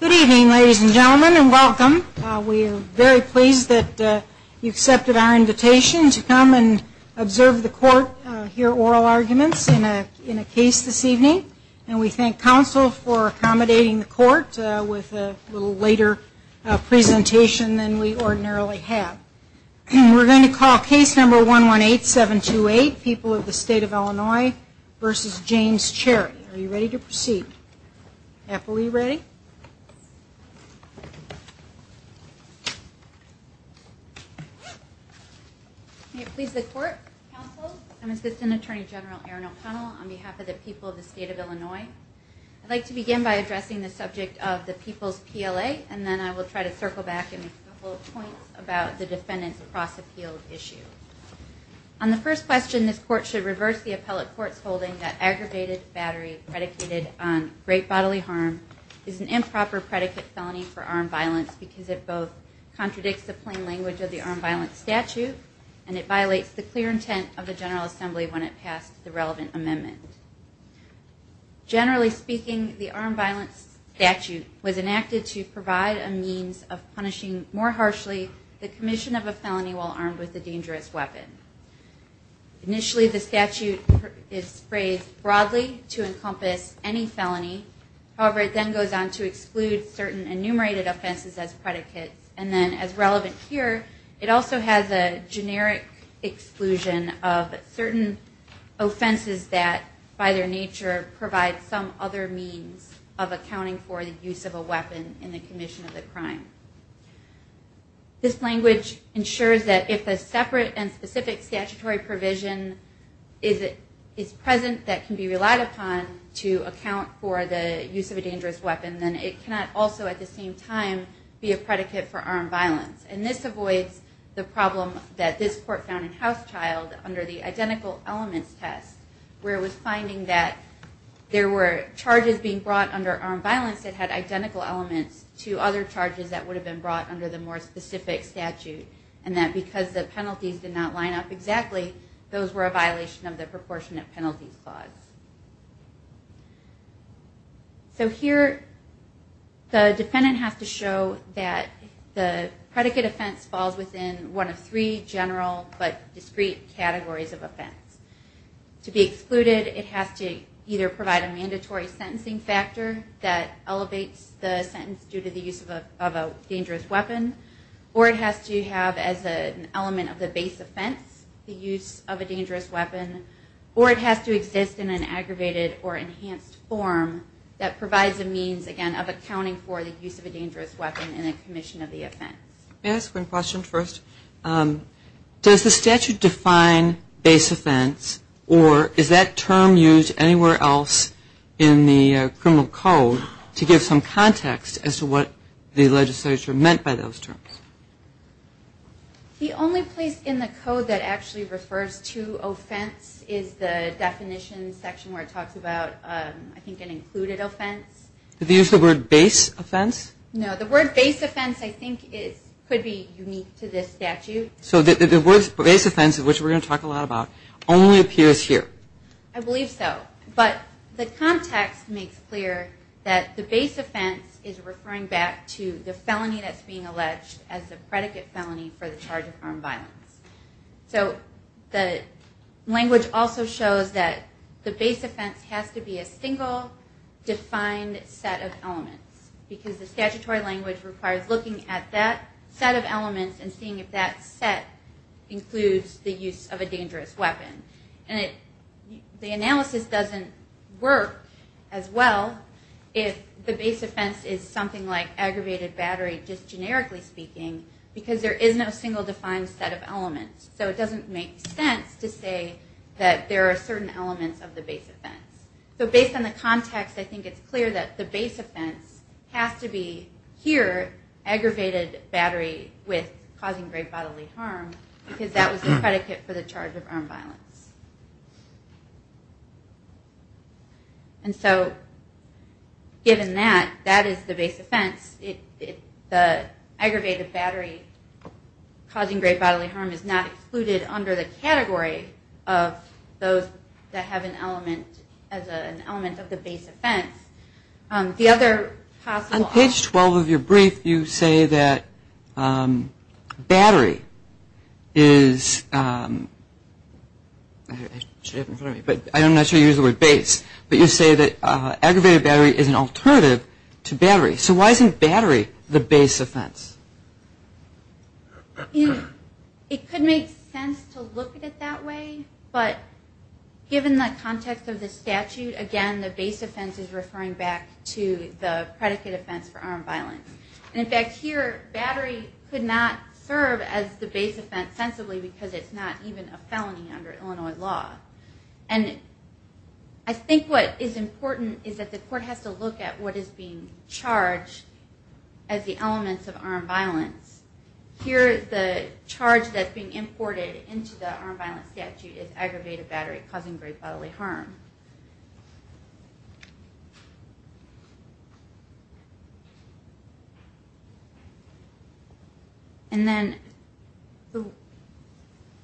Good evening ladies and gentlemen and welcome. We are very pleased that you accepted our invitation to come and observe the court, hear oral arguments in a case this evening and we thank counsel for accommodating the court with a little later presentation than we ordinarily have. We're going to call case number 118728, People of the State of Illinois v. James Cherry. Are you ready to proceed? Are we ready? Thank you. May it please the court, counsel, and assistant attorney general Erin O'Connell on behalf of the people of the state of Illinois. I'd like to begin by addressing the subject of the People's PLA and then I will try to circle back and make a couple of points about the defendant's cross-appeal issue. On the first question, this court should reverse the appellate court's holding that aggravated battery predicated on great bodily harm is an improper predicate felony for armed violence because it both contradicts the plain language of the armed violence statute and it violates the clear intent of the General Assembly when it passed the relevant amendment. Generally speaking, the armed violence statute was enacted to provide a means of punishing more harshly the commission of a felony while armed with a dangerous weapon. Initially, the statute is phrased broadly to encompass any felony. However, it then goes on to exclude certain enumerated offenses as predicates and then as relevant here, it also has a generic exclusion of certain offenses that are not in the statute. This language ensures that if a separate and specific statutory provision is present that can be relied upon to account for the use of a dangerous weapon, then it cannot also at the same time be a predicate for armed violence and this avoids the problem that this court found in House Child under the identical elements test where it was finding that the use of a dangerous weapon was a predicate for armed violence. It was finding that there were charges being brought under armed violence that had identical elements to other charges that would have been brought under the more specific statute and that because the penalties did not line up exactly, those were a violation of the proportionate penalties clause. So here, the defendant has to show that the predicate offense falls within one of three general but discrete categories of offense. To be excluded, it has to either provide a mandatory sentencing factor that elevates the sentence due to the use of a dangerous weapon or it has to have as an element of the base offense the use of a dangerous weapon or it has to exist in an aggravated or enhanced form that provides a means, again, of accounting for the use of a dangerous weapon in a commission of the offense. Can I ask one question first? Does the statute define base offense or is that term used anywhere else in the criminal code to give some context as to what the legislature meant by those terms? The only place in the code that actually refers to offense is the definition section where it talks about, I think, an included offense. Do they use the word base offense? No. The word base offense, I think, could be unique to this statute. So the word base offense, which we're going to talk a lot about, only appears here? I believe so. But the context makes clear that the base offense is referring back to the felony that's being alleged as the predicate felony for the charge of armed violence. So the language also shows that the base offense has to be a single, defined set of elements because the statutory language requires looking at that set of elements and seeing if that set includes the use of a dangerous weapon. And the analysis doesn't work as well if the base offense is something like aggravated battery, just generically speaking, because there is no single, defined set of elements. So it doesn't make sense to say that there are certain elements of the base offense. So based on the context, I think it's clear that the base offense has to be here, aggravated battery causing great bodily harm, because that was the predicate for the charge of armed violence. And so given that, that is the base offense. The aggravated battery causing great bodily harm is not included under the category of those that have an element of the base offense. On page 12 of your brief, you say that battery is, I'm not sure you use the word base, but you say that aggravated battery is an alternative to battery. So why isn't battery the base offense? It could make sense to look at it that way, but given the context of the statute, again, the base offense is referring back to the predicate offense for armed violence. And in fact here, battery could not serve as the base offense sensibly because it's not even a felony under Illinois law. And I think what is important is that the court has to look at what is being charged as the elements of armed violence. Here the charge that's being imported into the armed violence statute is aggravated battery causing great bodily harm. And then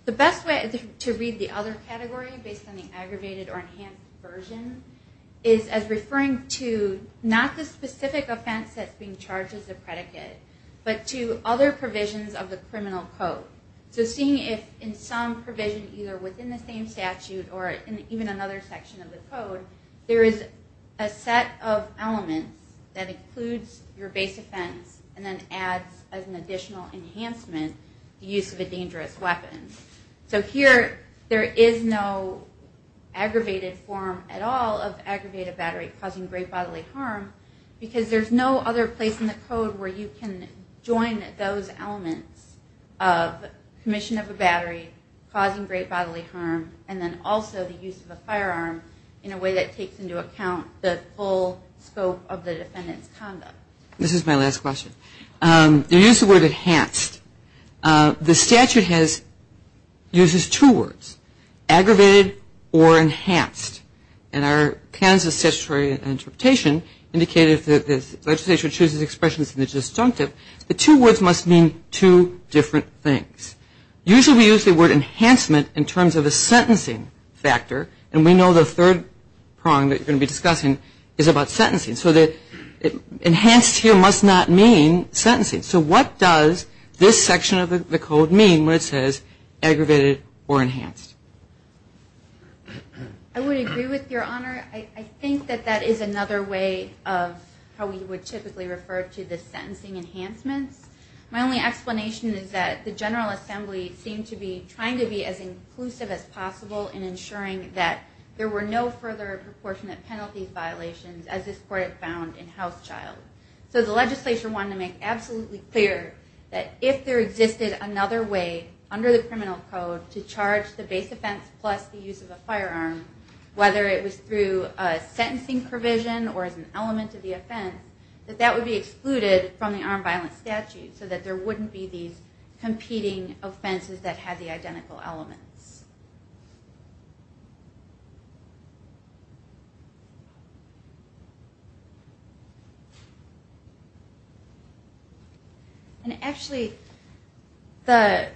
the best way to read the other category based on the aggravated or enhanced version is as referring to not the specific offense that's being charged as a predicate, but to other provisions of the criminal code. So seeing if in some provision, either within the same statute or even another section of the code, there is a set of elements that includes your base offense and then adds as an additional enhancement the use of a dangerous weapon. So here there is no aggravated form at all of aggravated battery causing great bodily harm because there's no other place in the code where you can join those elements of commission of a battery causing great bodily harm and then also the use of a firearm in a way that takes into account the full scope of the defendant's conduct. This is my last question. You use the word enhanced. The statute uses two words, aggravated or enhanced. And our Kansas statutory interpretation indicated that the legislature chooses expressions in the disjunctive. The two words must mean two different things. Usually we use the word enhancement in terms of a sentencing factor. And we know the third prong that you're going to be discussing is about sentencing. So enhanced here must not mean sentencing. So what does this section of the code mean where it says aggravated or enhanced? I would agree with your honor. I think that that is another way of how we would typically refer to the sentencing enhancements. My only explanation is that the General Assembly seemed to be trying to be as inclusive as possible in ensuring that there were no further proportionate penalty violations as this statute found in House Child. So the legislature wanted to make absolutely clear that if there existed another way under the criminal code to charge the base offense plus the use of a firearm, whether it was through a sentencing provision or as an element of the offense, that that would be excluded from the armed violence statute so that there wouldn't be these And actually, the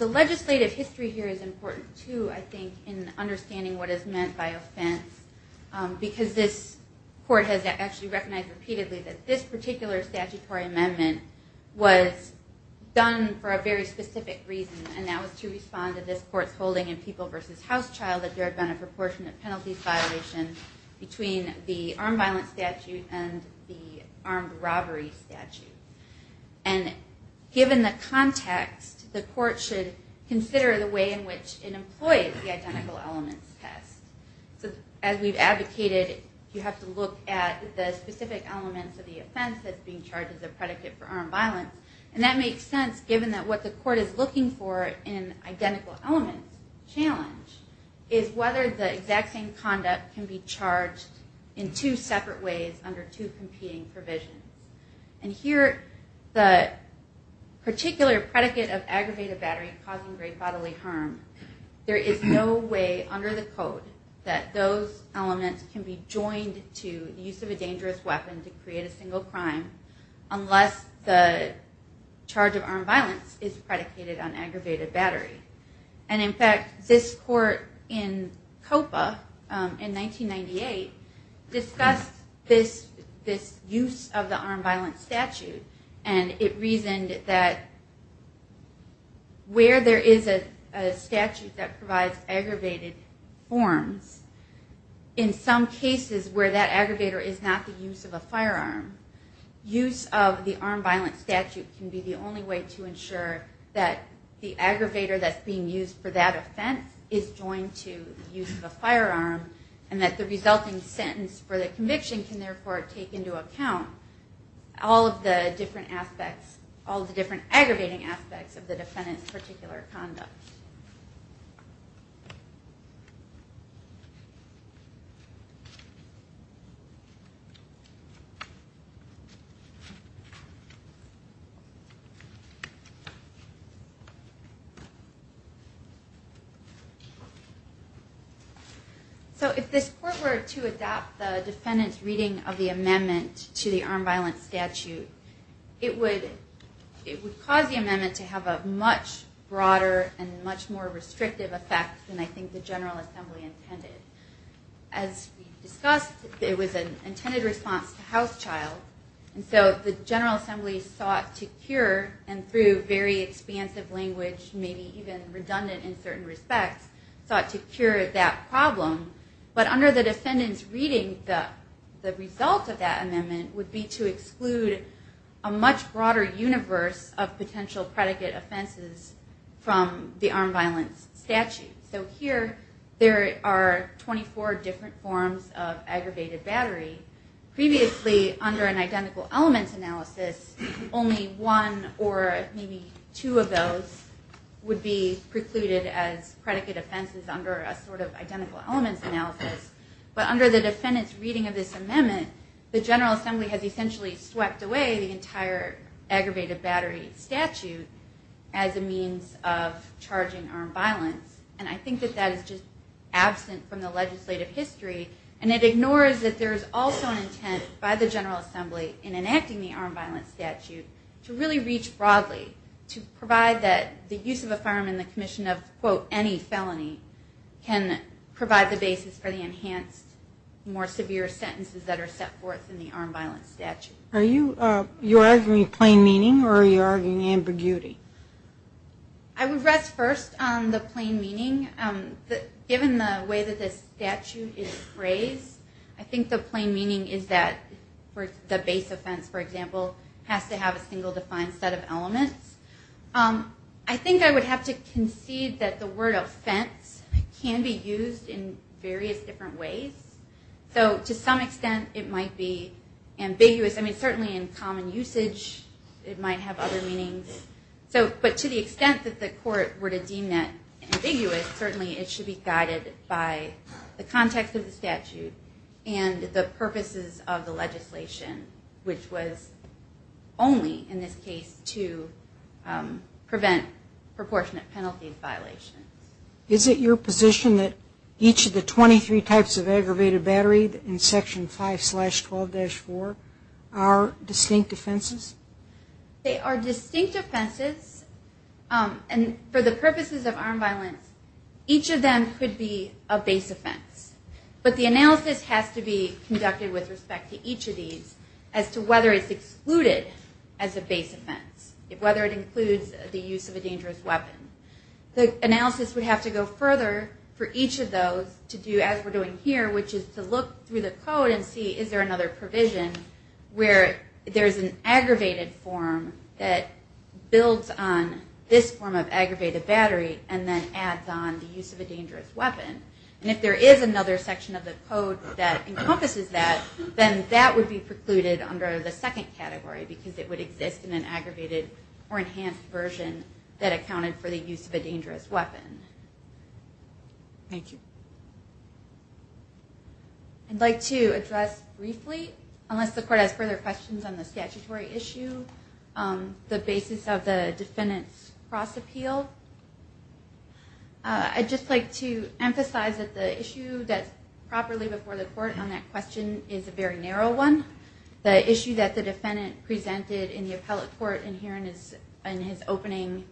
legislative history here is important too, I think, in understanding what is meant by offense. Because this court has actually recognized repeatedly that this particular statutory amendment was done for a very specific reason. And that was to respond to this court's holding in People v. House Child that there had been a proportionate penalty violation between the armed violence statute and the armed robbery statute. And given the context, the court should consider the way in which it employed the identical elements test. So as we've advocated, you have to look at the specific elements of the offense that's being charged as a predicate for armed violence. And that makes sense given that what the court is looking for in identical element challenge is whether the exact same conduct can be charged in two separate ways under two competing provisions. And here, the particular predicate of aggravated battery causing grave bodily harm, there is no way under the code that those elements can be joined to the use of a dangerous weapon to create a single crime unless the charge of armed violence is predicated on aggravated battery. And in fact, this court in COPA in 1998 discussed this use of the armed violence statute and it reasoned that where there is a statute that provides aggravated forms, in some cases where that aggravator is not the use of a firearm, use of the armed violence statute can be the only way to ensure that the aggravator that's being used for that offense is joined to the use of a firearm. And that the resulting sentence for the conviction can therefore take into account all of the different aspects, all of the different aggravating aspects of the defendant's particular conduct. So if this court were to adopt the defendant's reading of the amendment to the armed violence statute, it would cause the amendment to have a much broader and much more restrictive effect than I think the General Assembly intended. As we discussed, it was an intended response to House Child, and so the General Assembly sought to cure, and through very expansive language, maybe even redundant in certain respects, sought to cure that problem. But under the defendant's reading, the result of that amendment would be to exclude a much broader universe of potential predicate offenses from the armed violence statute. So here, there are 24 different forms of aggravated battery. Previously, under an identical elements analysis, only one or maybe two of those would be precluded as predicate offenses under a sort of identical elements analysis. But under the defendant's reading of this amendment, the General Assembly has essentially swept away the entire aggravated battery statute as a means of charging armed violence. And I think that that is just absent from the legislative history, and it ignores that there is also an intent by the General Assembly in enacting the armed violence statute to really reach broadly, to provide that the use of a firearm in the commission of, quote, any felony can provide the basis for the enhanced, more severe sentences that are set forth in the armed violence statute. Are you arguing plain meaning, or are you arguing ambiguity? I would rest first on the plain meaning. Given the way that this statute is phrased, I think the plain meaning is that the base offense, for example, has to have a single defined set of elements. I think I would have to concede that the word offense can be used in various different ways. So to some extent, it might be ambiguous. I mean, certainly in common usage, it might have other meanings. But to the extent that the court were to deem that ambiguous, certainly it should be guided by the context of the statute and the purposes of the legislation, which was only, in this case, to prevent proportionate penalty violations. Is it your position that each of the 23 types of aggravated battery in Section 5-12-4 are distinct offenses? They are distinct offenses, and for the purposes of armed violence, each of them could be a base offense. But the analysis has to be conducted with respect to each of these as to whether it's excluded as a base offense, whether it includes the use of a dangerous weapon. The analysis would have to go further for each of those to do, as we're doing here, which is to look through the code and see is there another provision where there's an aggravated form that builds on this form of aggravated battery and then adds on the use of a dangerous weapon. And if there is another section of the code that encompasses that, then that would be precluded under the second category because it would exist in an aggravated or enhanced version that accounted for the use of a dangerous weapon. Thank you. I'd like to address briefly, unless the court has further questions on the statutory issue, the basis of the defendant's cross-appeal. I'd just like to emphasize that the issue that's properly before the court on that question is a very narrow one. The issue that the defendant presented in the appellate court in his opening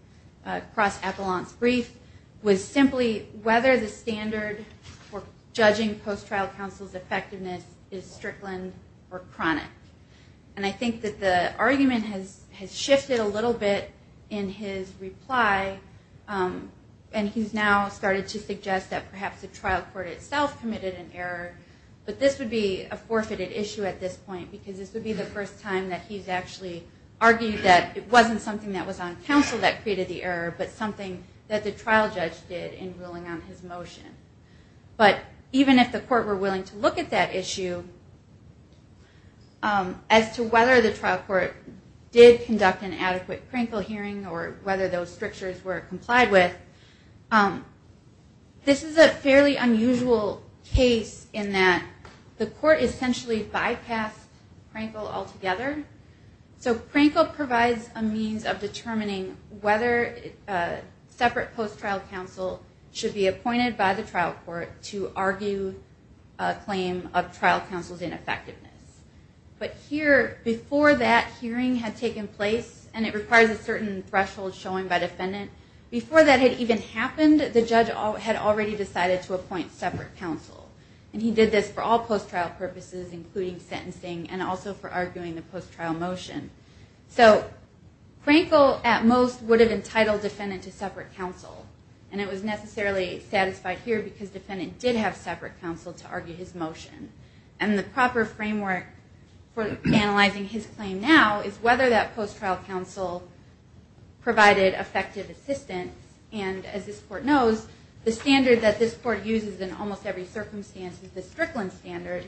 cross-appellant brief was simply whether the standard for judging post-trial counsel's effectiveness is strickland or chronic. And I think that the argument has shifted a little bit in his reply, and he's now started to suggest that perhaps the trial court itself committed an error. But this would be a forfeited issue at this point because this would be the first time that he's actually argued that it wasn't something that was on counsel that created the error, but something that the trial judge did in ruling on his motion. But even if the court were willing to look at that issue, as to whether the trial court did conduct an adequate crinkle hearing or whether those strictures were complied with, this is a fairly unusual case in that the court essentially bypassed crinkle altogether. So crinkle provides a means of determining whether separate post-trial counsel should be appointed by the trial court to argue a claim of trial counsel's ineffectiveness. But here, before that hearing had taken place, and it requires a certain threshold showing by defendant, before that had even happened, the judge had already decided to appoint separate counsel. And he did this for all post-trial purposes, including sentencing and also for arguing the post-trial motion. So crinkle at most would have entitled defendant to separate counsel, and it was necessarily satisfied here because defendant did have separate counsel to argue his motion. And the proper framework for analyzing his claim now is whether that post-trial counsel provided effective assistance. And as this court knows, the standard that this court uses in almost every circumstance is the Strickland standard,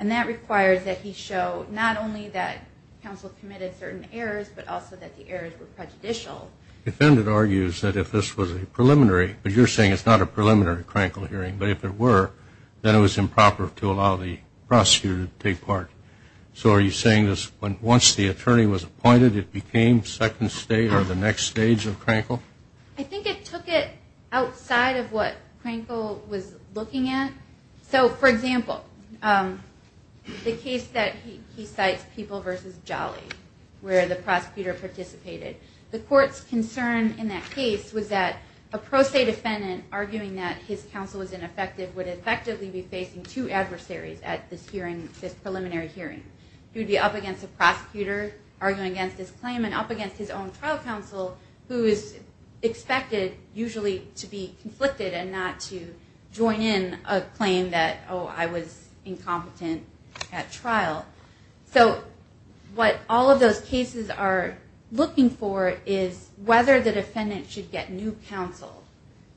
and that requires that he show not only that counsel committed certain errors, but also that the errors were prejudicial. The defendant argues that if this was a preliminary, but you're saying it's not a preliminary crinkle hearing, but if it were, then it was improper to allow the prosecutor to take part. So are you saying once the attorney was appointed, it became second stage or the next stage of crinkle? I think it took it outside of what crinkle was looking at. So, for example, the case that he cites, People v. Jolly, where the prosecutor participated. The court's concern in that case was that a pro se defendant arguing that his counsel was ineffective would effectively be facing two adversaries at this hearing, this preliminary hearing. He would be up against a prosecutor arguing against his claim and up against his own trial counsel, who is expected usually to be conflicted and not to join in a claim that, oh, I was incompetent at trial. So what all of those cases are looking for is whether the defendant should get new counsel.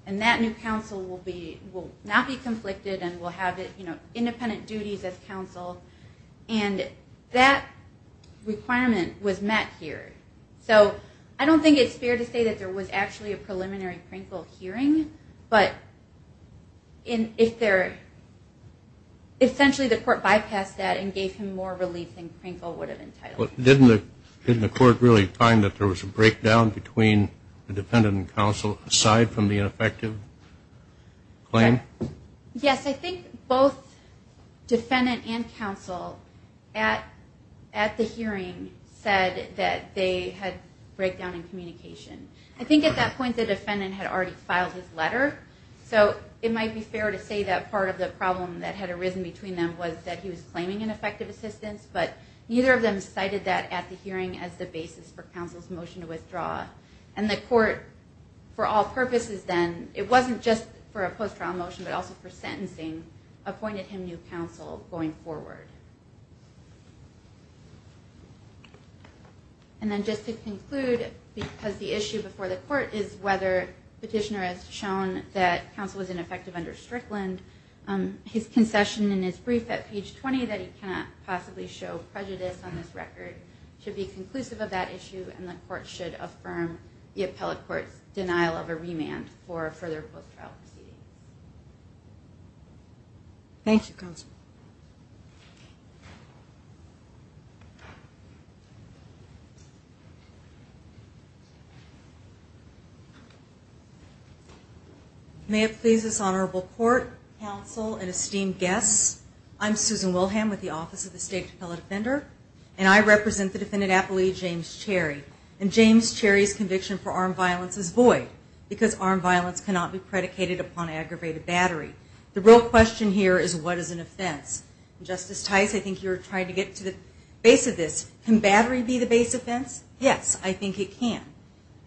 And that new counsel will not be conflicted and will have independent duties as counsel. And that requirement was met here. So I don't think it's fair to say that there was actually a preliminary crinkle hearing, but if there, essentially the court bypassed that and gave him more relief than crinkle would have entitled him to. Didn't the court really find that there was a breakdown between the defendant and counsel aside from the ineffective claim? Yes, I think both defendant and counsel at the hearing said that they had breakdown in communication. I think at that point the defendant had already filed his letter. So it might be fair to say that part of the problem that had arisen between them was that he was claiming ineffective assistance, but neither of them cited that at the hearing as the basis for counsel's motion to withdraw. And the court, for all purposes then, it wasn't just for a post-trial motion, but also for sentencing, appointed him new counsel going forward. And then just to conclude, because the issue before the court is whether petitioner has shown that counsel was ineffective under Strickland, his concession in his brief at page 20 that he cannot possibly show prejudice on this record should be conclusive of that issue and the court should affirm the appellate court's denial of a remand for a further post-trial proceeding. Thank you, counsel. May it please this honorable court, counsel, and esteemed guests, I'm Susan Wilhelm with the Office of the State Appellate Defender and I represent the defendant appellee, James Cherry. And James Cherry's conviction for armed violence is void because armed violence cannot be predicated upon aggravated battery. The real question here is what is an offense? Justice Tice, I think you were trying to get to the base of this. Can battery be the base offense? Yes, I think it can.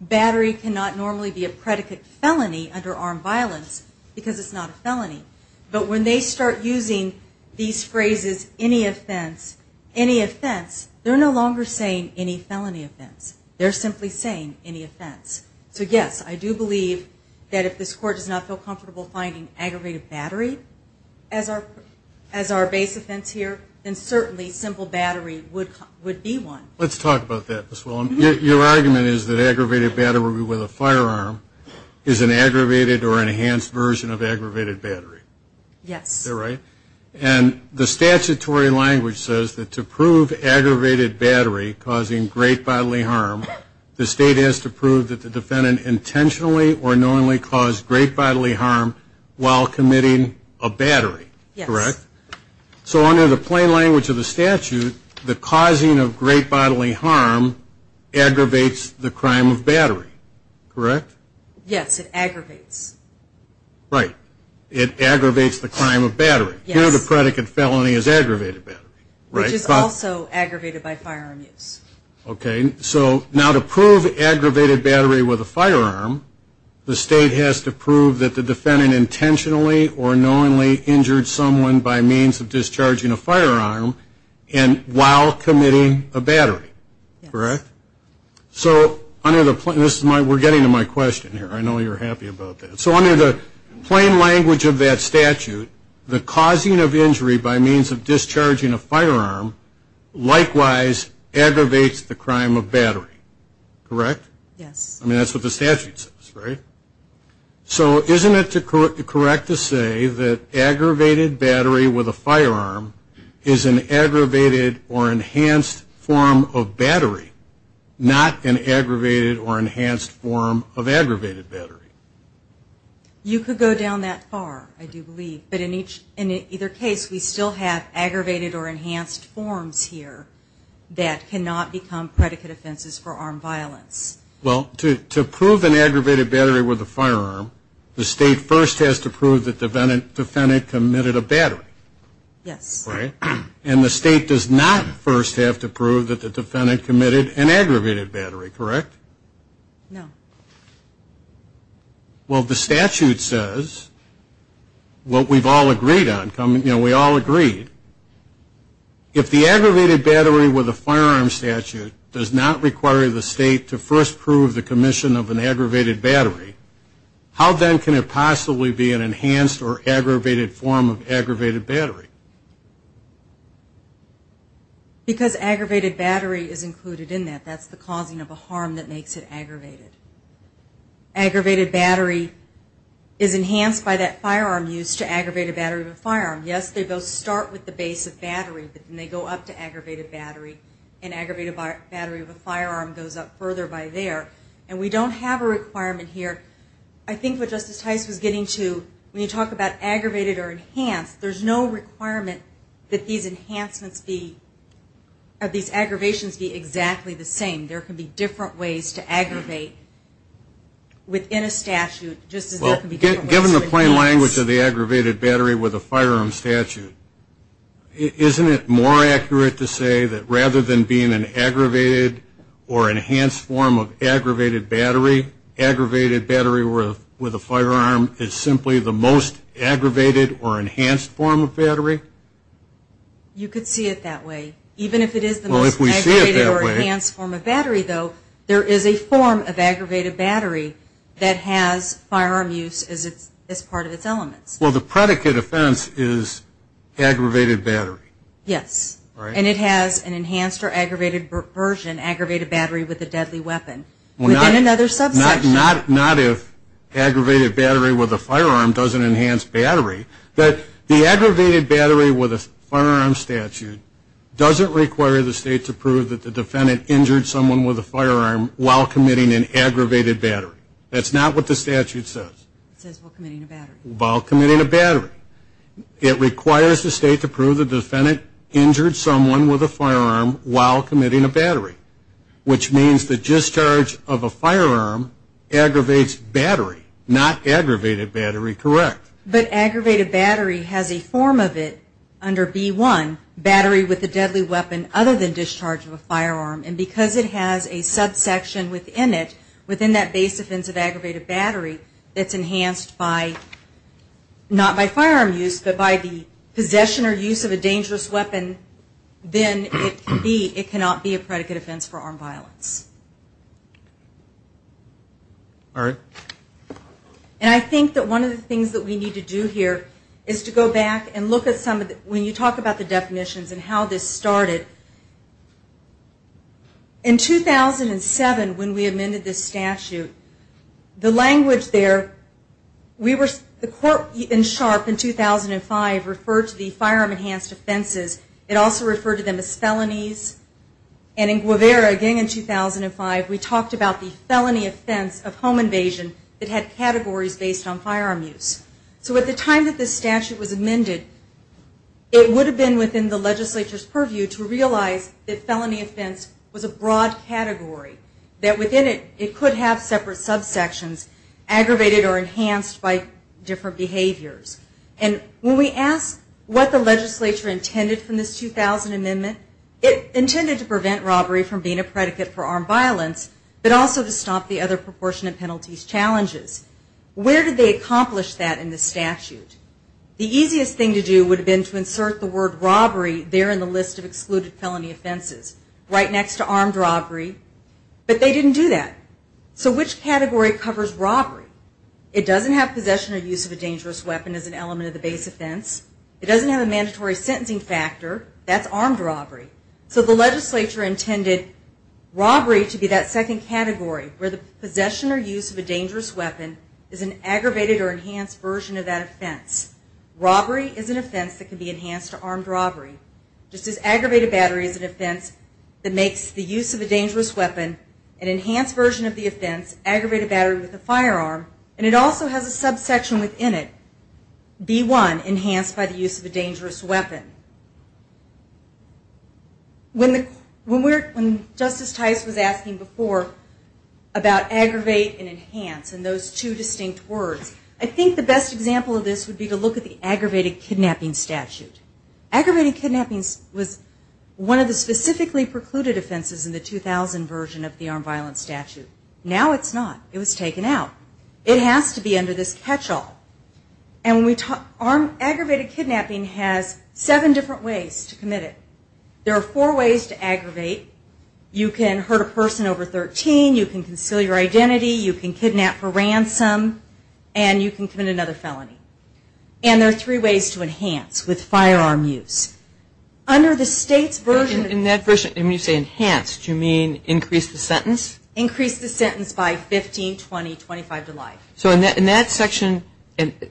Battery cannot normally be a predicate felony under armed violence because it's not a felony. But when they start using these phrases, any offense, any offense, they're no longer saying any felony offense. They're simply saying any offense. So yes, I do believe that if this court does not feel comfortable finding aggravated battery as our base offense here, then certainly simple battery would be one. Let's talk about that, Ms. Wilhelm. Your argument is that aggravated battery with a firearm is an aggravated or enhanced version of aggravated battery. Yes. Is that right? And the statutory language says that to prove aggravated battery causing great bodily harm, the state has to prove that the defendant intentionally or knowingly caused great bodily harm while committing a battery. Yes. Correct? So under the plain language of the statute, the causing of great bodily harm aggravates the crime of battery. Correct? Yes, it aggravates. Right. It aggravates the crime of battery. Yes. Here the predicate felony is aggravated battery. Which is also aggravated by firearm use. Okay. So now to prove aggravated battery with a firearm, the state has to prove that the defendant intentionally or knowingly injured someone by means of discharging a firearm while committing a battery. Yes. Correct? So under the plain language of that statute, the causing of injury by means of discharging a firearm likewise aggravates the crime of battery. Correct? Yes. I mean, that's what the statute says, right? So isn't it correct to say that aggravated battery with a firearm is an aggravated or enhanced form of battery, not an aggravated or enhanced form of aggravated battery? You could go down that far, I do believe. But in either case, we still have aggravated or enhanced forms here that cannot become predicate offenses for armed violence. Well, to prove an aggravated battery with a firearm, the state first has to prove that the defendant committed a battery. Yes. Right? And the state does not first have to prove that the defendant committed an aggravated battery. Correct? No. Well, the statute says, what we've all agreed on, you know, we all agreed, if the aggravated battery with a firearm statute does not require the state to first prove the commission of an aggravated battery, how then can it possibly be an enhanced or aggravated form of aggravated battery? Because aggravated battery is included in that. That's the causing of a harm that makes it aggravated. Aggravated battery is enhanced by that firearm used to aggravate a battery with a firearm. Yes, they both start with the base of battery, but then they go up to aggravated battery, and aggravated battery of a firearm goes up further by there. And we don't have a requirement here. I think what Justice Tice was getting to, when you talk about aggravated or enhanced, there's no requirement that these enhancements be, that these aggravations be exactly the same. There can be different ways to aggravate within a statute, just as there can be different ways to enhance. Let's go to the aggravated battery with a firearm statute. Isn't it more accurate to say that rather than being an aggravated or enhanced form of aggravated battery, aggravated battery with a firearm is simply the most aggravated or enhanced form of battery? You could see it that way. Even if it is the most aggravated or enhanced form of battery, though, there is a form of aggravated battery that has firearm use as part of its elements. Well, the predicate offense is aggravated battery. Yes. And it has an enhanced or aggravated version, aggravated battery with a deadly weapon, within another subsection. Not if aggravated battery with a firearm doesn't enhance battery. The aggravated battery with a firearm statute doesn't require the State to prove that the defendant injured someone with a firearm while committing an aggravated battery. That's not what the statute says. It says while committing a battery. While committing a battery. It requires the State to prove the defendant injured someone with a firearm while committing a battery, which means the discharge of a firearm aggravates battery, not aggravated battery. Correct. But aggravated battery has a form of it under B-1, battery with a deadly weapon, other than discharge of a firearm. And because it has a subsection within it, within that base offense of aggravated battery, that's enhanced by, not by firearm use, but by the possession or use of a dangerous weapon, then it cannot be a predicate offense for armed violence. All right. And I think that one of the things that we need to do here is to go back and look at some of the, when you talk about the definitions and how this started, in 2007 when we amended this statute, the language there, we were, the court in Sharpe in 2005 referred to the firearm enhanced offenses. It also referred to them as felonies. And in Guevara, again in 2005, we talked about the felony offense of home invasion that had categories based on firearm use. So at the time that this statute was amended, it would have been within the legislature's purview to realize that felony offense was a broad category, that within it, it could have separate subsections aggravated or enhanced by different behaviors. And when we ask what the legislature intended from this 2000 amendment, it intended to prevent robbery from being a predicate for armed violence, but also to stop the other proportionate penalties challenges. Where did they accomplish that in the statute? The easiest thing to do would have been to insert the word robbery there in the list of excluded felony offenses, right next to armed robbery. But they didn't do that. So which category covers robbery? It doesn't have possession or use of a dangerous weapon as an element of the base offense. It doesn't have a mandatory sentencing factor. That's armed robbery. So the legislature intended robbery to be that second category, where the possession or use of a dangerous weapon is an aggravated or enhanced version of that offense. Robbery is an offense that can be enhanced to armed robbery. Just as aggravated battery is an offense that makes the use of a dangerous weapon, an enhanced version of the offense, aggravated battery with a firearm, and it also has a subsection within it, B1, enhanced by the use of a dangerous weapon. When Justice Tice was asking before about aggravate and enhance and those two distinct words, I think the best example of this would be to look at the aggravated kidnapping statute. Aggravated kidnapping was one of the specifically precluded offenses in the 2000 version of the armed violence statute. Now it's not. It was taken out. It has to be under this catch-all. And aggravated kidnapping has seven different ways to commit it. There are four ways to aggravate. You can hurt a person over 13. You can conceal your identity. You can kidnap for ransom. And you can commit another felony. And there are three ways to enhance with firearm use. Under the state's version of the statute. And when you say enhanced, do you mean increase the sentence? Increase the sentence by 15, 20, 25 to life. So in that section,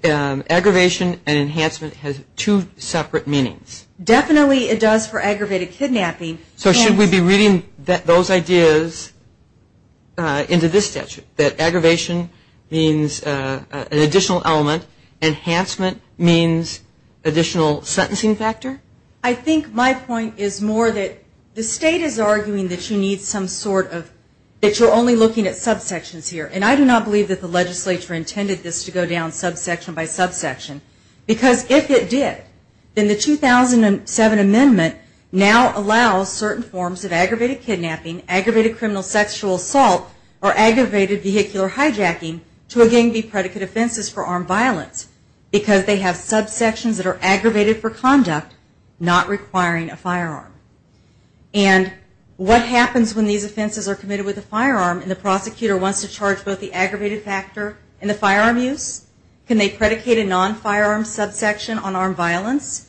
aggravation and enhancement has two separate meanings. Definitely it does for aggravated kidnapping. So should we be reading those ideas into this statute? That aggravation means an additional element. Enhancement means additional sentencing factor? I think my point is more that the state is arguing that you need some sort of, that you're only looking at subsections here. And I do not believe that the legislature intended this to go down subsection by subsection. Because if it did, then the 2007 amendment now allows certain forms of aggravated kidnapping, aggravated criminal sexual assault, or aggravated vehicular hijacking to again be predicate offenses for armed violence. Because they have subsections that are aggravated for conduct, not requiring a firearm. And what happens when these offenses are committed with a firearm and the prosecutor wants to charge both the aggravated factor and the firearm use? Can they predicate a non-firearm subsection on armed violence?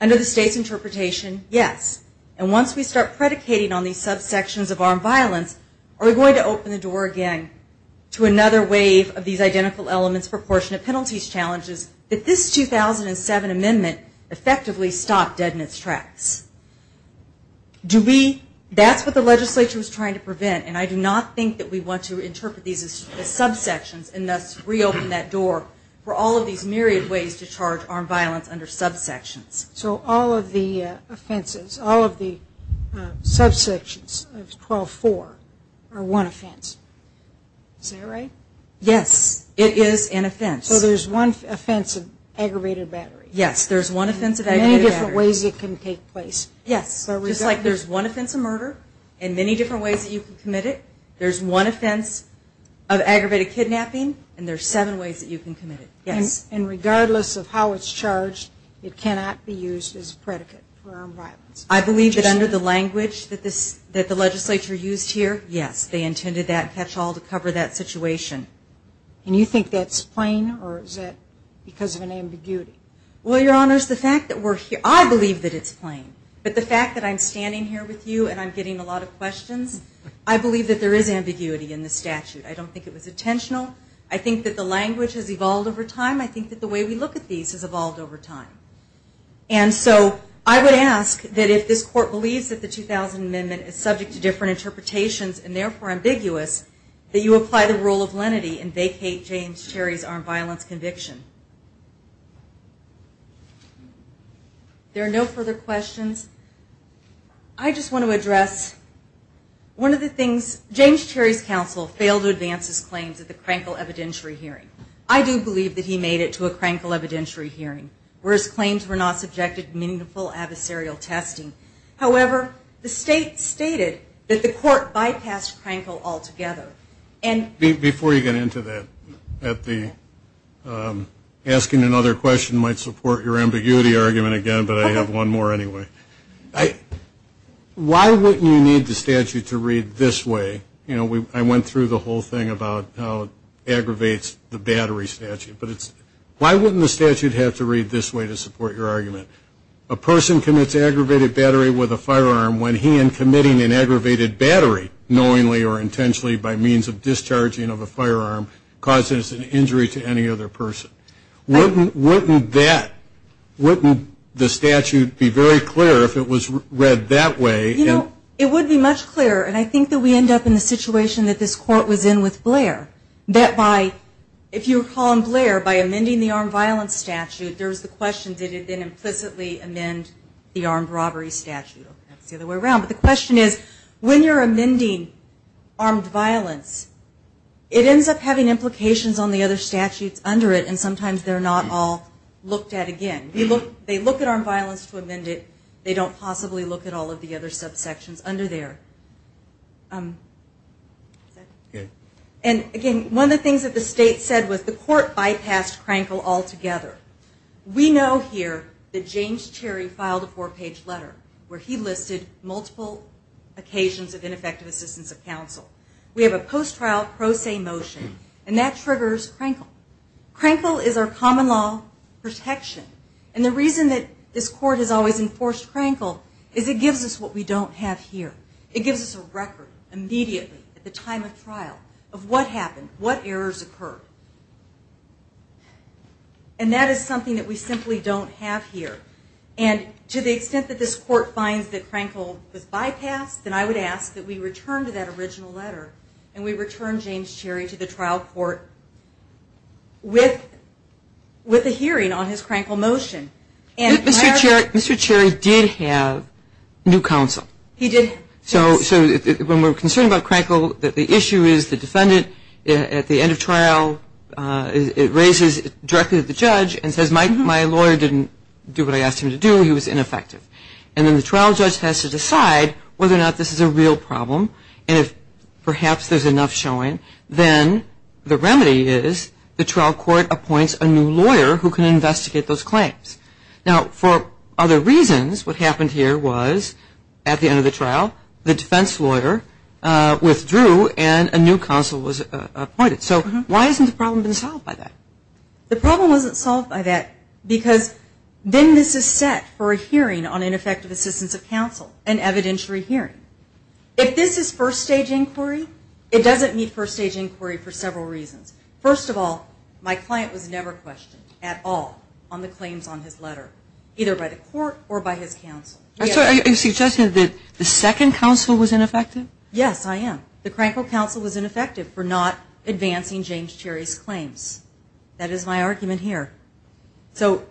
Under the state's interpretation, yes. And once we start predicating on these subsections of armed violence, are we going to open the door again to another wave of these identical elements proportionate penalties challenges that this 2007 amendment effectively stopped dead in its tracks? That's what the legislature was trying to prevent. And I do not think that we want to interpret these as subsections and thus reopen that door for all of these myriad ways to charge armed violence under subsections. So all of the offenses, all of the subsections of 12-4 are one offense. Is that right? Yes, it is an offense. So there's one offense of aggravated battery. Yes, there's one offense of aggravated battery. And there are many different ways it can take place. Yes. Just like there's one offense of murder and many different ways that you can commit it, there's one offense of aggravated kidnapping, and there are seven ways that you can commit it. Yes. And regardless of how it's charged, it cannot be used as a predicate for armed violence. I believe that under the language that the legislature used here, yes, they intended that catch-all to cover that situation. And you think that's plain or is that because of an ambiguity? Well, Your Honors, the fact that we're here, I believe that it's plain. But the fact that I'm standing here with you and I'm getting a lot of questions, I believe that there is ambiguity in the statute. I don't think it was intentional. I think that the language has evolved over time. I think that the way we look at these has evolved over time. And so I would ask that if this Court believes that the 2000 Amendment is subject to different interpretations and therefore ambiguous, that you apply the rule of lenity and vacate James Cherry's armed violence conviction. There are no further questions. I just want to address one of the things. James Cherry's counsel failed to advance his claims at the Crankle evidentiary hearing. I do believe that he made it to a Crankle evidentiary hearing, where his claims were not subjected to meaningful adversarial testing. However, the State stated that the Court bypassed Crankle altogether. Before you get into that, asking another question might support your ambiguity argument again, but I have one more anyway. Why wouldn't you need the statute to read this way? You know, I went through the whole thing about how it aggravates the battery statute. But why wouldn't the statute have to read this way to support your argument? A person commits aggravated battery with a firearm when he, knowingly or intentionally by means of discharging of a firearm, causes an injury to any other person. Wouldn't that, wouldn't the statute be very clear if it was read that way? You know, it would be much clearer, and I think that we end up in the situation that this Court was in with Blair. That by, if you recall in Blair, by amending the armed violence statute, there's the question, did it then implicitly amend the armed robbery statute? That's the other way around. But the question is, when you're amending armed violence, it ends up having implications on the other statutes under it, and sometimes they're not all looked at again. They look at armed violence to amend it. They don't possibly look at all of the other subsections under there. And again, one of the things that the State said was the Court bypassed Crankle altogether. We know here that James Cherry filed a four-page letter where he listed multiple occasions of ineffective assistance of counsel. We have a post-trial pro se motion, and that triggers Crankle. Crankle is our common law protection, and the reason that this Court has always enforced Crankle is it gives us what we don't have here. It gives us a record immediately at the time of trial of what happened, what errors occurred. And that is something that we simply don't have here. And to the extent that this Court finds that Crankle was bypassed, then I would ask that we return to that original letter, and we return James Cherry to the trial court with a hearing on his Crankle motion. Mr. Cherry did have new counsel. He did. So when we're concerned about Crankle, the issue is the defendant at the end of trial raises it directly to the judge and says my lawyer didn't do what I asked him to do. He was ineffective. And then the trial judge has to decide whether or not this is a real problem, and if perhaps there's enough showing, then the remedy is the trial court appoints a new lawyer who can investigate those claims. Now, for other reasons, what happened here was at the end of the trial, the defense lawyer withdrew and a new counsel was appointed. So why hasn't the problem been solved by that? The problem wasn't solved by that because then this is set for a hearing on ineffective assistance of counsel, an evidentiary hearing. If this is first-stage inquiry, it doesn't meet first-stage inquiry for several reasons. First of all, my client was never questioned at all on the claims on his letter, either by the Court or by his counsel. I'm sorry. Are you suggesting that the second counsel was ineffective? Yes, I am. The Crankel counsel was ineffective for not advancing James Cherry's claims. That is my argument here. So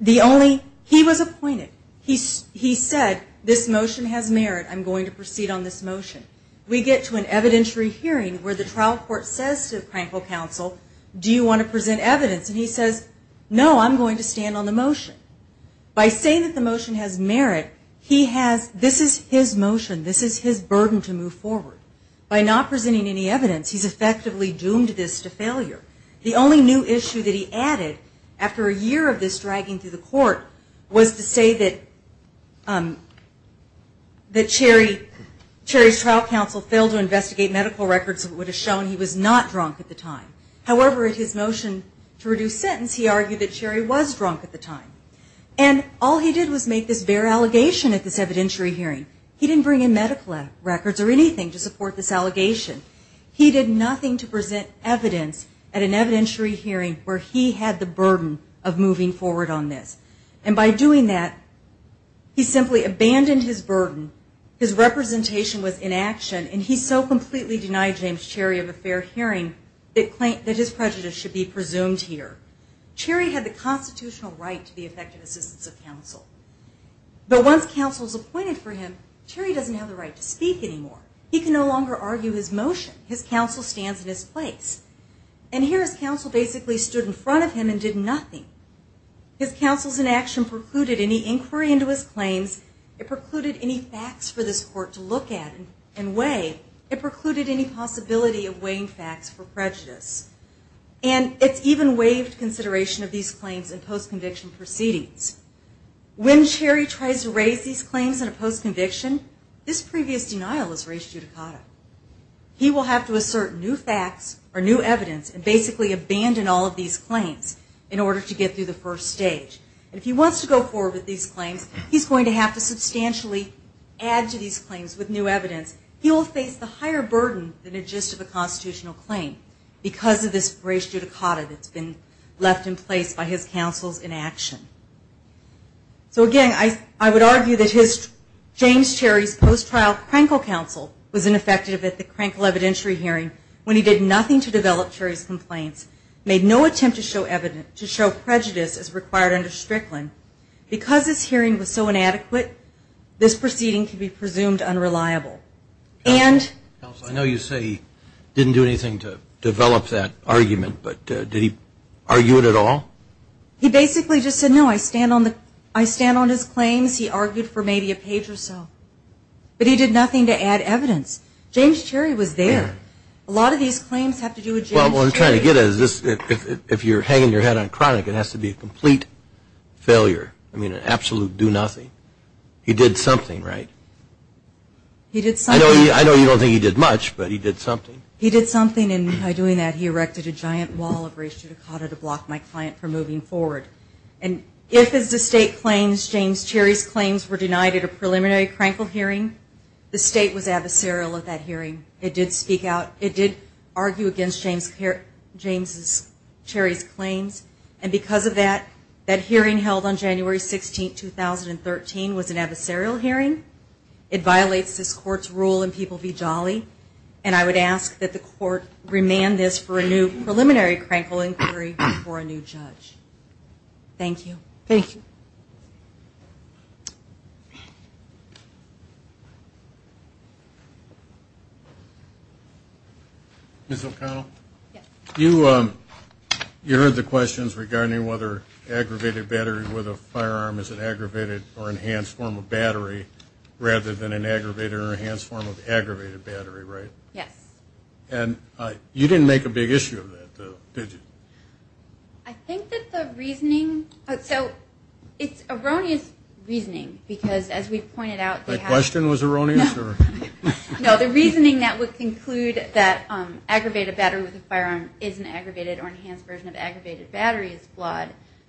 the only he was appointed. He said this motion has merit. I'm going to proceed on this motion. We get to an evidentiary hearing where the trial court says to Crankel counsel, do you want to present evidence? And he says, no, I'm going to stand on the motion. By saying that the motion has merit, this is his motion. This is his burden to move forward. By not presenting any evidence, he's effectively doomed this to failure. The only new issue that he added after a year of this dragging through the court was to say that Cherry's trial counsel failed to investigate medical records that would have shown he was not drunk at the time. However, at his motion to reduce sentence, he argued that Cherry was drunk at the time. And all he did was make this bare allegation at this evidentiary hearing. He didn't bring in medical records or anything to support this allegation. He did nothing to present evidence at an evidentiary hearing where he had the burden of moving forward on this. And by doing that, he simply abandoned his burden. His representation was inaction, and he so completely denied James Cherry of a fair hearing that his prejudice should be presumed here. Cherry had the constitutional right to be effective assistance of counsel. But once counsel was appointed for him, Cherry doesn't have the right to speak anymore. He can no longer argue his motion. His counsel stands in his place. And here his counsel basically stood in front of him and did nothing. His counsel's inaction precluded any inquiry into his claims. It precluded any facts for this court to look at and weigh. It precluded any possibility of weighing facts for prejudice. And it's even waived consideration of these claims in post-conviction proceedings. When Cherry tries to raise these claims in a post-conviction, this previous denial is raised judicata. He will have to assert new facts or new evidence and basically abandon all of these claims in order to get through the first stage. And if he wants to go forward with these claims, he's going to have to substantially add to these claims with new evidence. He will face the higher burden than a gist of a constitutional claim because of this raised judicata that's been left in place by his counsel's inaction. So again, I would argue that James Cherry's post-trial Krenkel counsel was ineffective at the Krenkel evidentiary hearing when he did nothing to develop Cherry's complaints, made no attempt to show prejudice as required under Strickland. Because this hearing was so inadequate, this proceeding can be presumed unreliable. And – Counsel, I know you say he didn't do anything to develop that argument, but did he argue it at all? He basically just said, no, I stand on his claims. He argued for maybe a page or so. But he did nothing to add evidence. James Cherry was there. A lot of these claims have to do with James Cherry. Well, what I'm trying to get at is this. If you're hanging your head on Krenkel, it has to be a complete failure. I mean, an absolute do-nothing. He did something, right? He did something. I know you don't think he did much, but he did something. He did something, and by doing that, he erected a giant wall of raised judicata to block my client from moving forward. And if, as the State claims, James Cherry's claims were denied at a preliminary Krenkel hearing, the State was adversarial at that hearing. It did speak out. It did argue against James Cherry's claims. And because of that, that hearing held on January 16, 2013, was an adversarial hearing. It violates this Court's rule in People v. Jolly, and I would ask that the Court remand this for a new preliminary Krenkel inquiry before a new judge. Thank you. Thank you. Ms. O'Connell? Yes. You heard the questions regarding whether aggravated battery with a firearm is an aggravated or enhanced form of battery rather than an aggravated or enhanced form of aggravated battery, right? Yes. And you didn't make a big issue of that, did you? I think that the reasoning – so it's erroneous reasoning because, as we've pointed out – That question was erroneous? No, the reasoning that would conclude that aggravated battery with a firearm is an aggravated or enhanced version of aggravated battery is flawed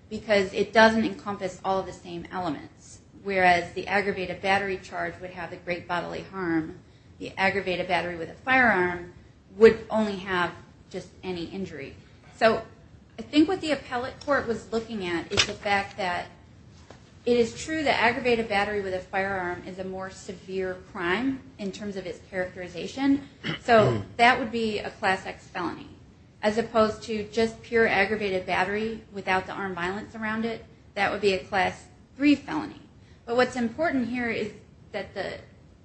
because it doesn't encompass all of the same elements. Whereas the aggravated battery charge would have a great bodily harm, the aggravated battery with a firearm would only have just any injury. So I think what the appellate court was looking at is the fact that it is true that aggravated battery with a firearm is a more severe crime in terms of its characterization. So that would be a Class X felony, as opposed to just pure aggravated battery without the armed violence around it. That would be a Class III felony. But what's important here is that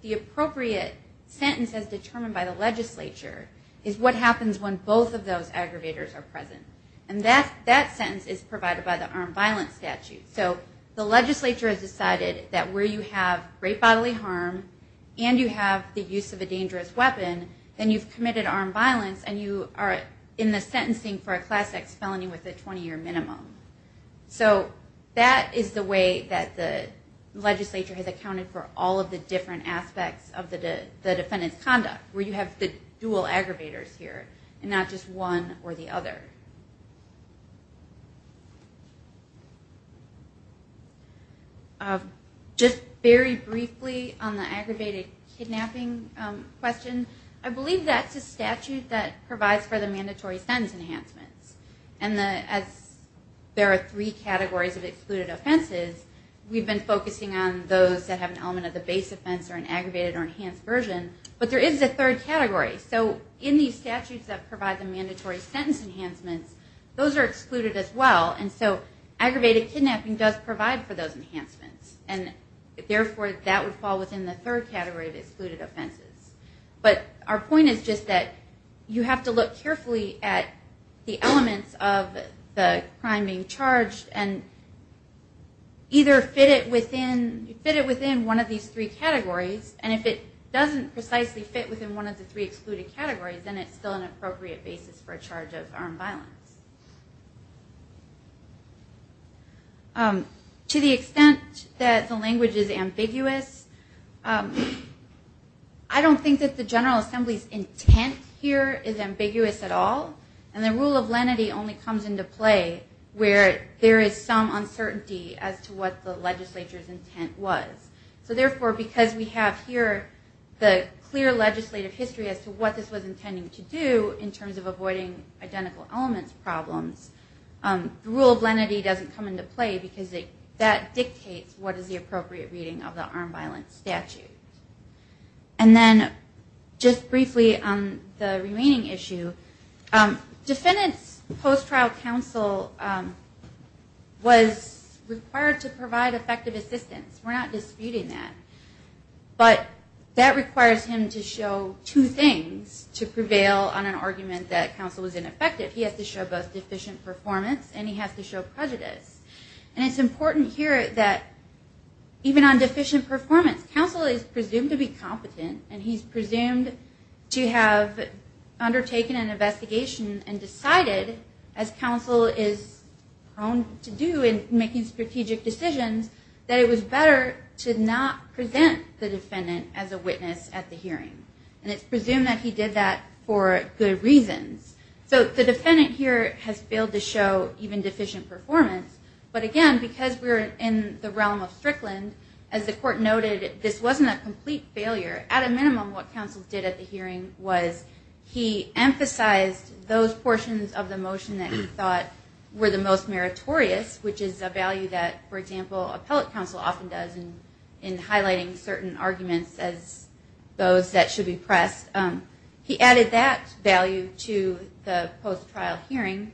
the appropriate sentence as determined by the legislature is what happens when both of those aggravators are present. And that sentence is provided by the armed violence statute. So the legislature has decided that where you have great bodily harm and you have the use of a dangerous weapon, then you've committed armed violence and you are in the sentencing for a Class X felony with a 20-year minimum. So that is the way that the legislature has accounted for all of the different conduct where you have the dual aggravators here and not just one or the other. Just very briefly on the aggravated kidnapping question, I believe that's a statute that provides for the mandatory sentence enhancements. And as there are three categories of excluded offenses, we've been focusing on those that have an element of the base offense or an aggravated kidnapping. There is a third category. So in these statutes that provide the mandatory sentence enhancements, those are excluded as well. And so aggravated kidnapping does provide for those enhancements. And therefore, that would fall within the third category of excluded offenses. But our point is just that you have to look carefully at the elements of the crime being charged and either fit it within one of these three categories. And if it doesn't precisely fit within one of the three excluded categories, then it's still an appropriate basis for a charge of armed violence. To the extent that the language is ambiguous, I don't think that the General Assembly's intent here is ambiguous at all. And the rule of lenity only comes into play where there is some uncertainty as to what the legislature's intent was. So therefore, because we have here the clear legislative history as to what this was intending to do in terms of avoiding identical elements problems, the rule of lenity doesn't come into play because that dictates what is the appropriate reading of the armed violence statute. And then just briefly on the remaining issue, defendant's post-trial counsel was required to provide effective assistance. We're not disputing that. But that requires him to show two things to prevail on an argument that counsel was ineffective. He has to show both deficient performance and he has to show prejudice. And it's important here that even on deficient performance, counsel is presumed to be competent and he's presumed to have undertaken an investigation and decided, as counsel is prone to do in making strategic decisions, that it was better to not present the defendant as a witness at the hearing. And it's presumed that he did that for good reasons. So the defendant here has failed to show even deficient performance. But again, because we're in the realm of Strickland, as the court noted, this wasn't a complete failure. At a minimum, what counsel did at the hearing was he emphasized those portions of the motion that he thought were the most meritorious, which is a value that, for example, appellate counsel often does in highlighting certain arguments as those that should be pressed. He added that value to the post-trial hearing.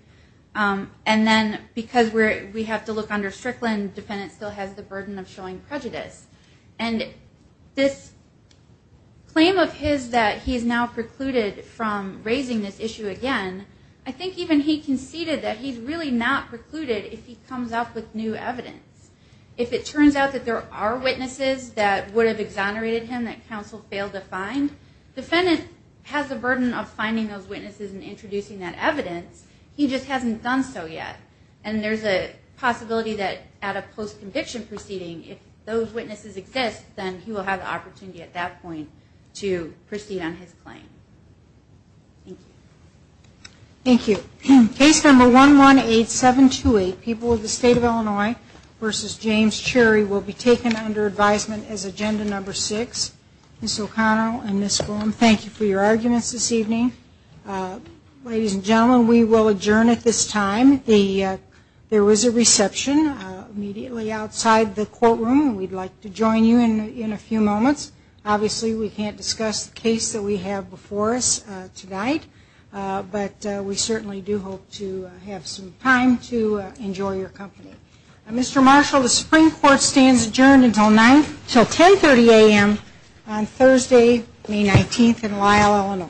And then because we have to look under Strickland, the defendant still has the burden of showing prejudice. And this claim of his that he's now precluded from raising this issue again, I think even he conceded that he's really not precluded if he comes up with new evidence. If it turns out that there are witnesses that would have exonerated him that counsel failed to find, defendant has the burden of finding those witnesses and introducing that evidence. He just hasn't done so yet. And there's a possibility that at a post-conviction proceeding, if those witnesses exist, then he will have the opportunity at that point to proceed on his claim. Thank you. Thank you. Case number 118728, People of the State of Illinois v. James Cherry, will be taken under advisement as agenda number six. Ms. O'Connell and Ms. Gorman, thank you for your arguments this evening. Ladies and gentlemen, we will adjourn at this time. There was a reception immediately outside the courtroom. We'd like to join you in a few moments. Obviously, we can't discuss the case that we have before us tonight, but we certainly do hope to have some time to enjoy your company. Mr. Marshall, the Supreme Court stands adjourned until 1030 a.m. on Thursday, May 19th, in Lyle, Illinois.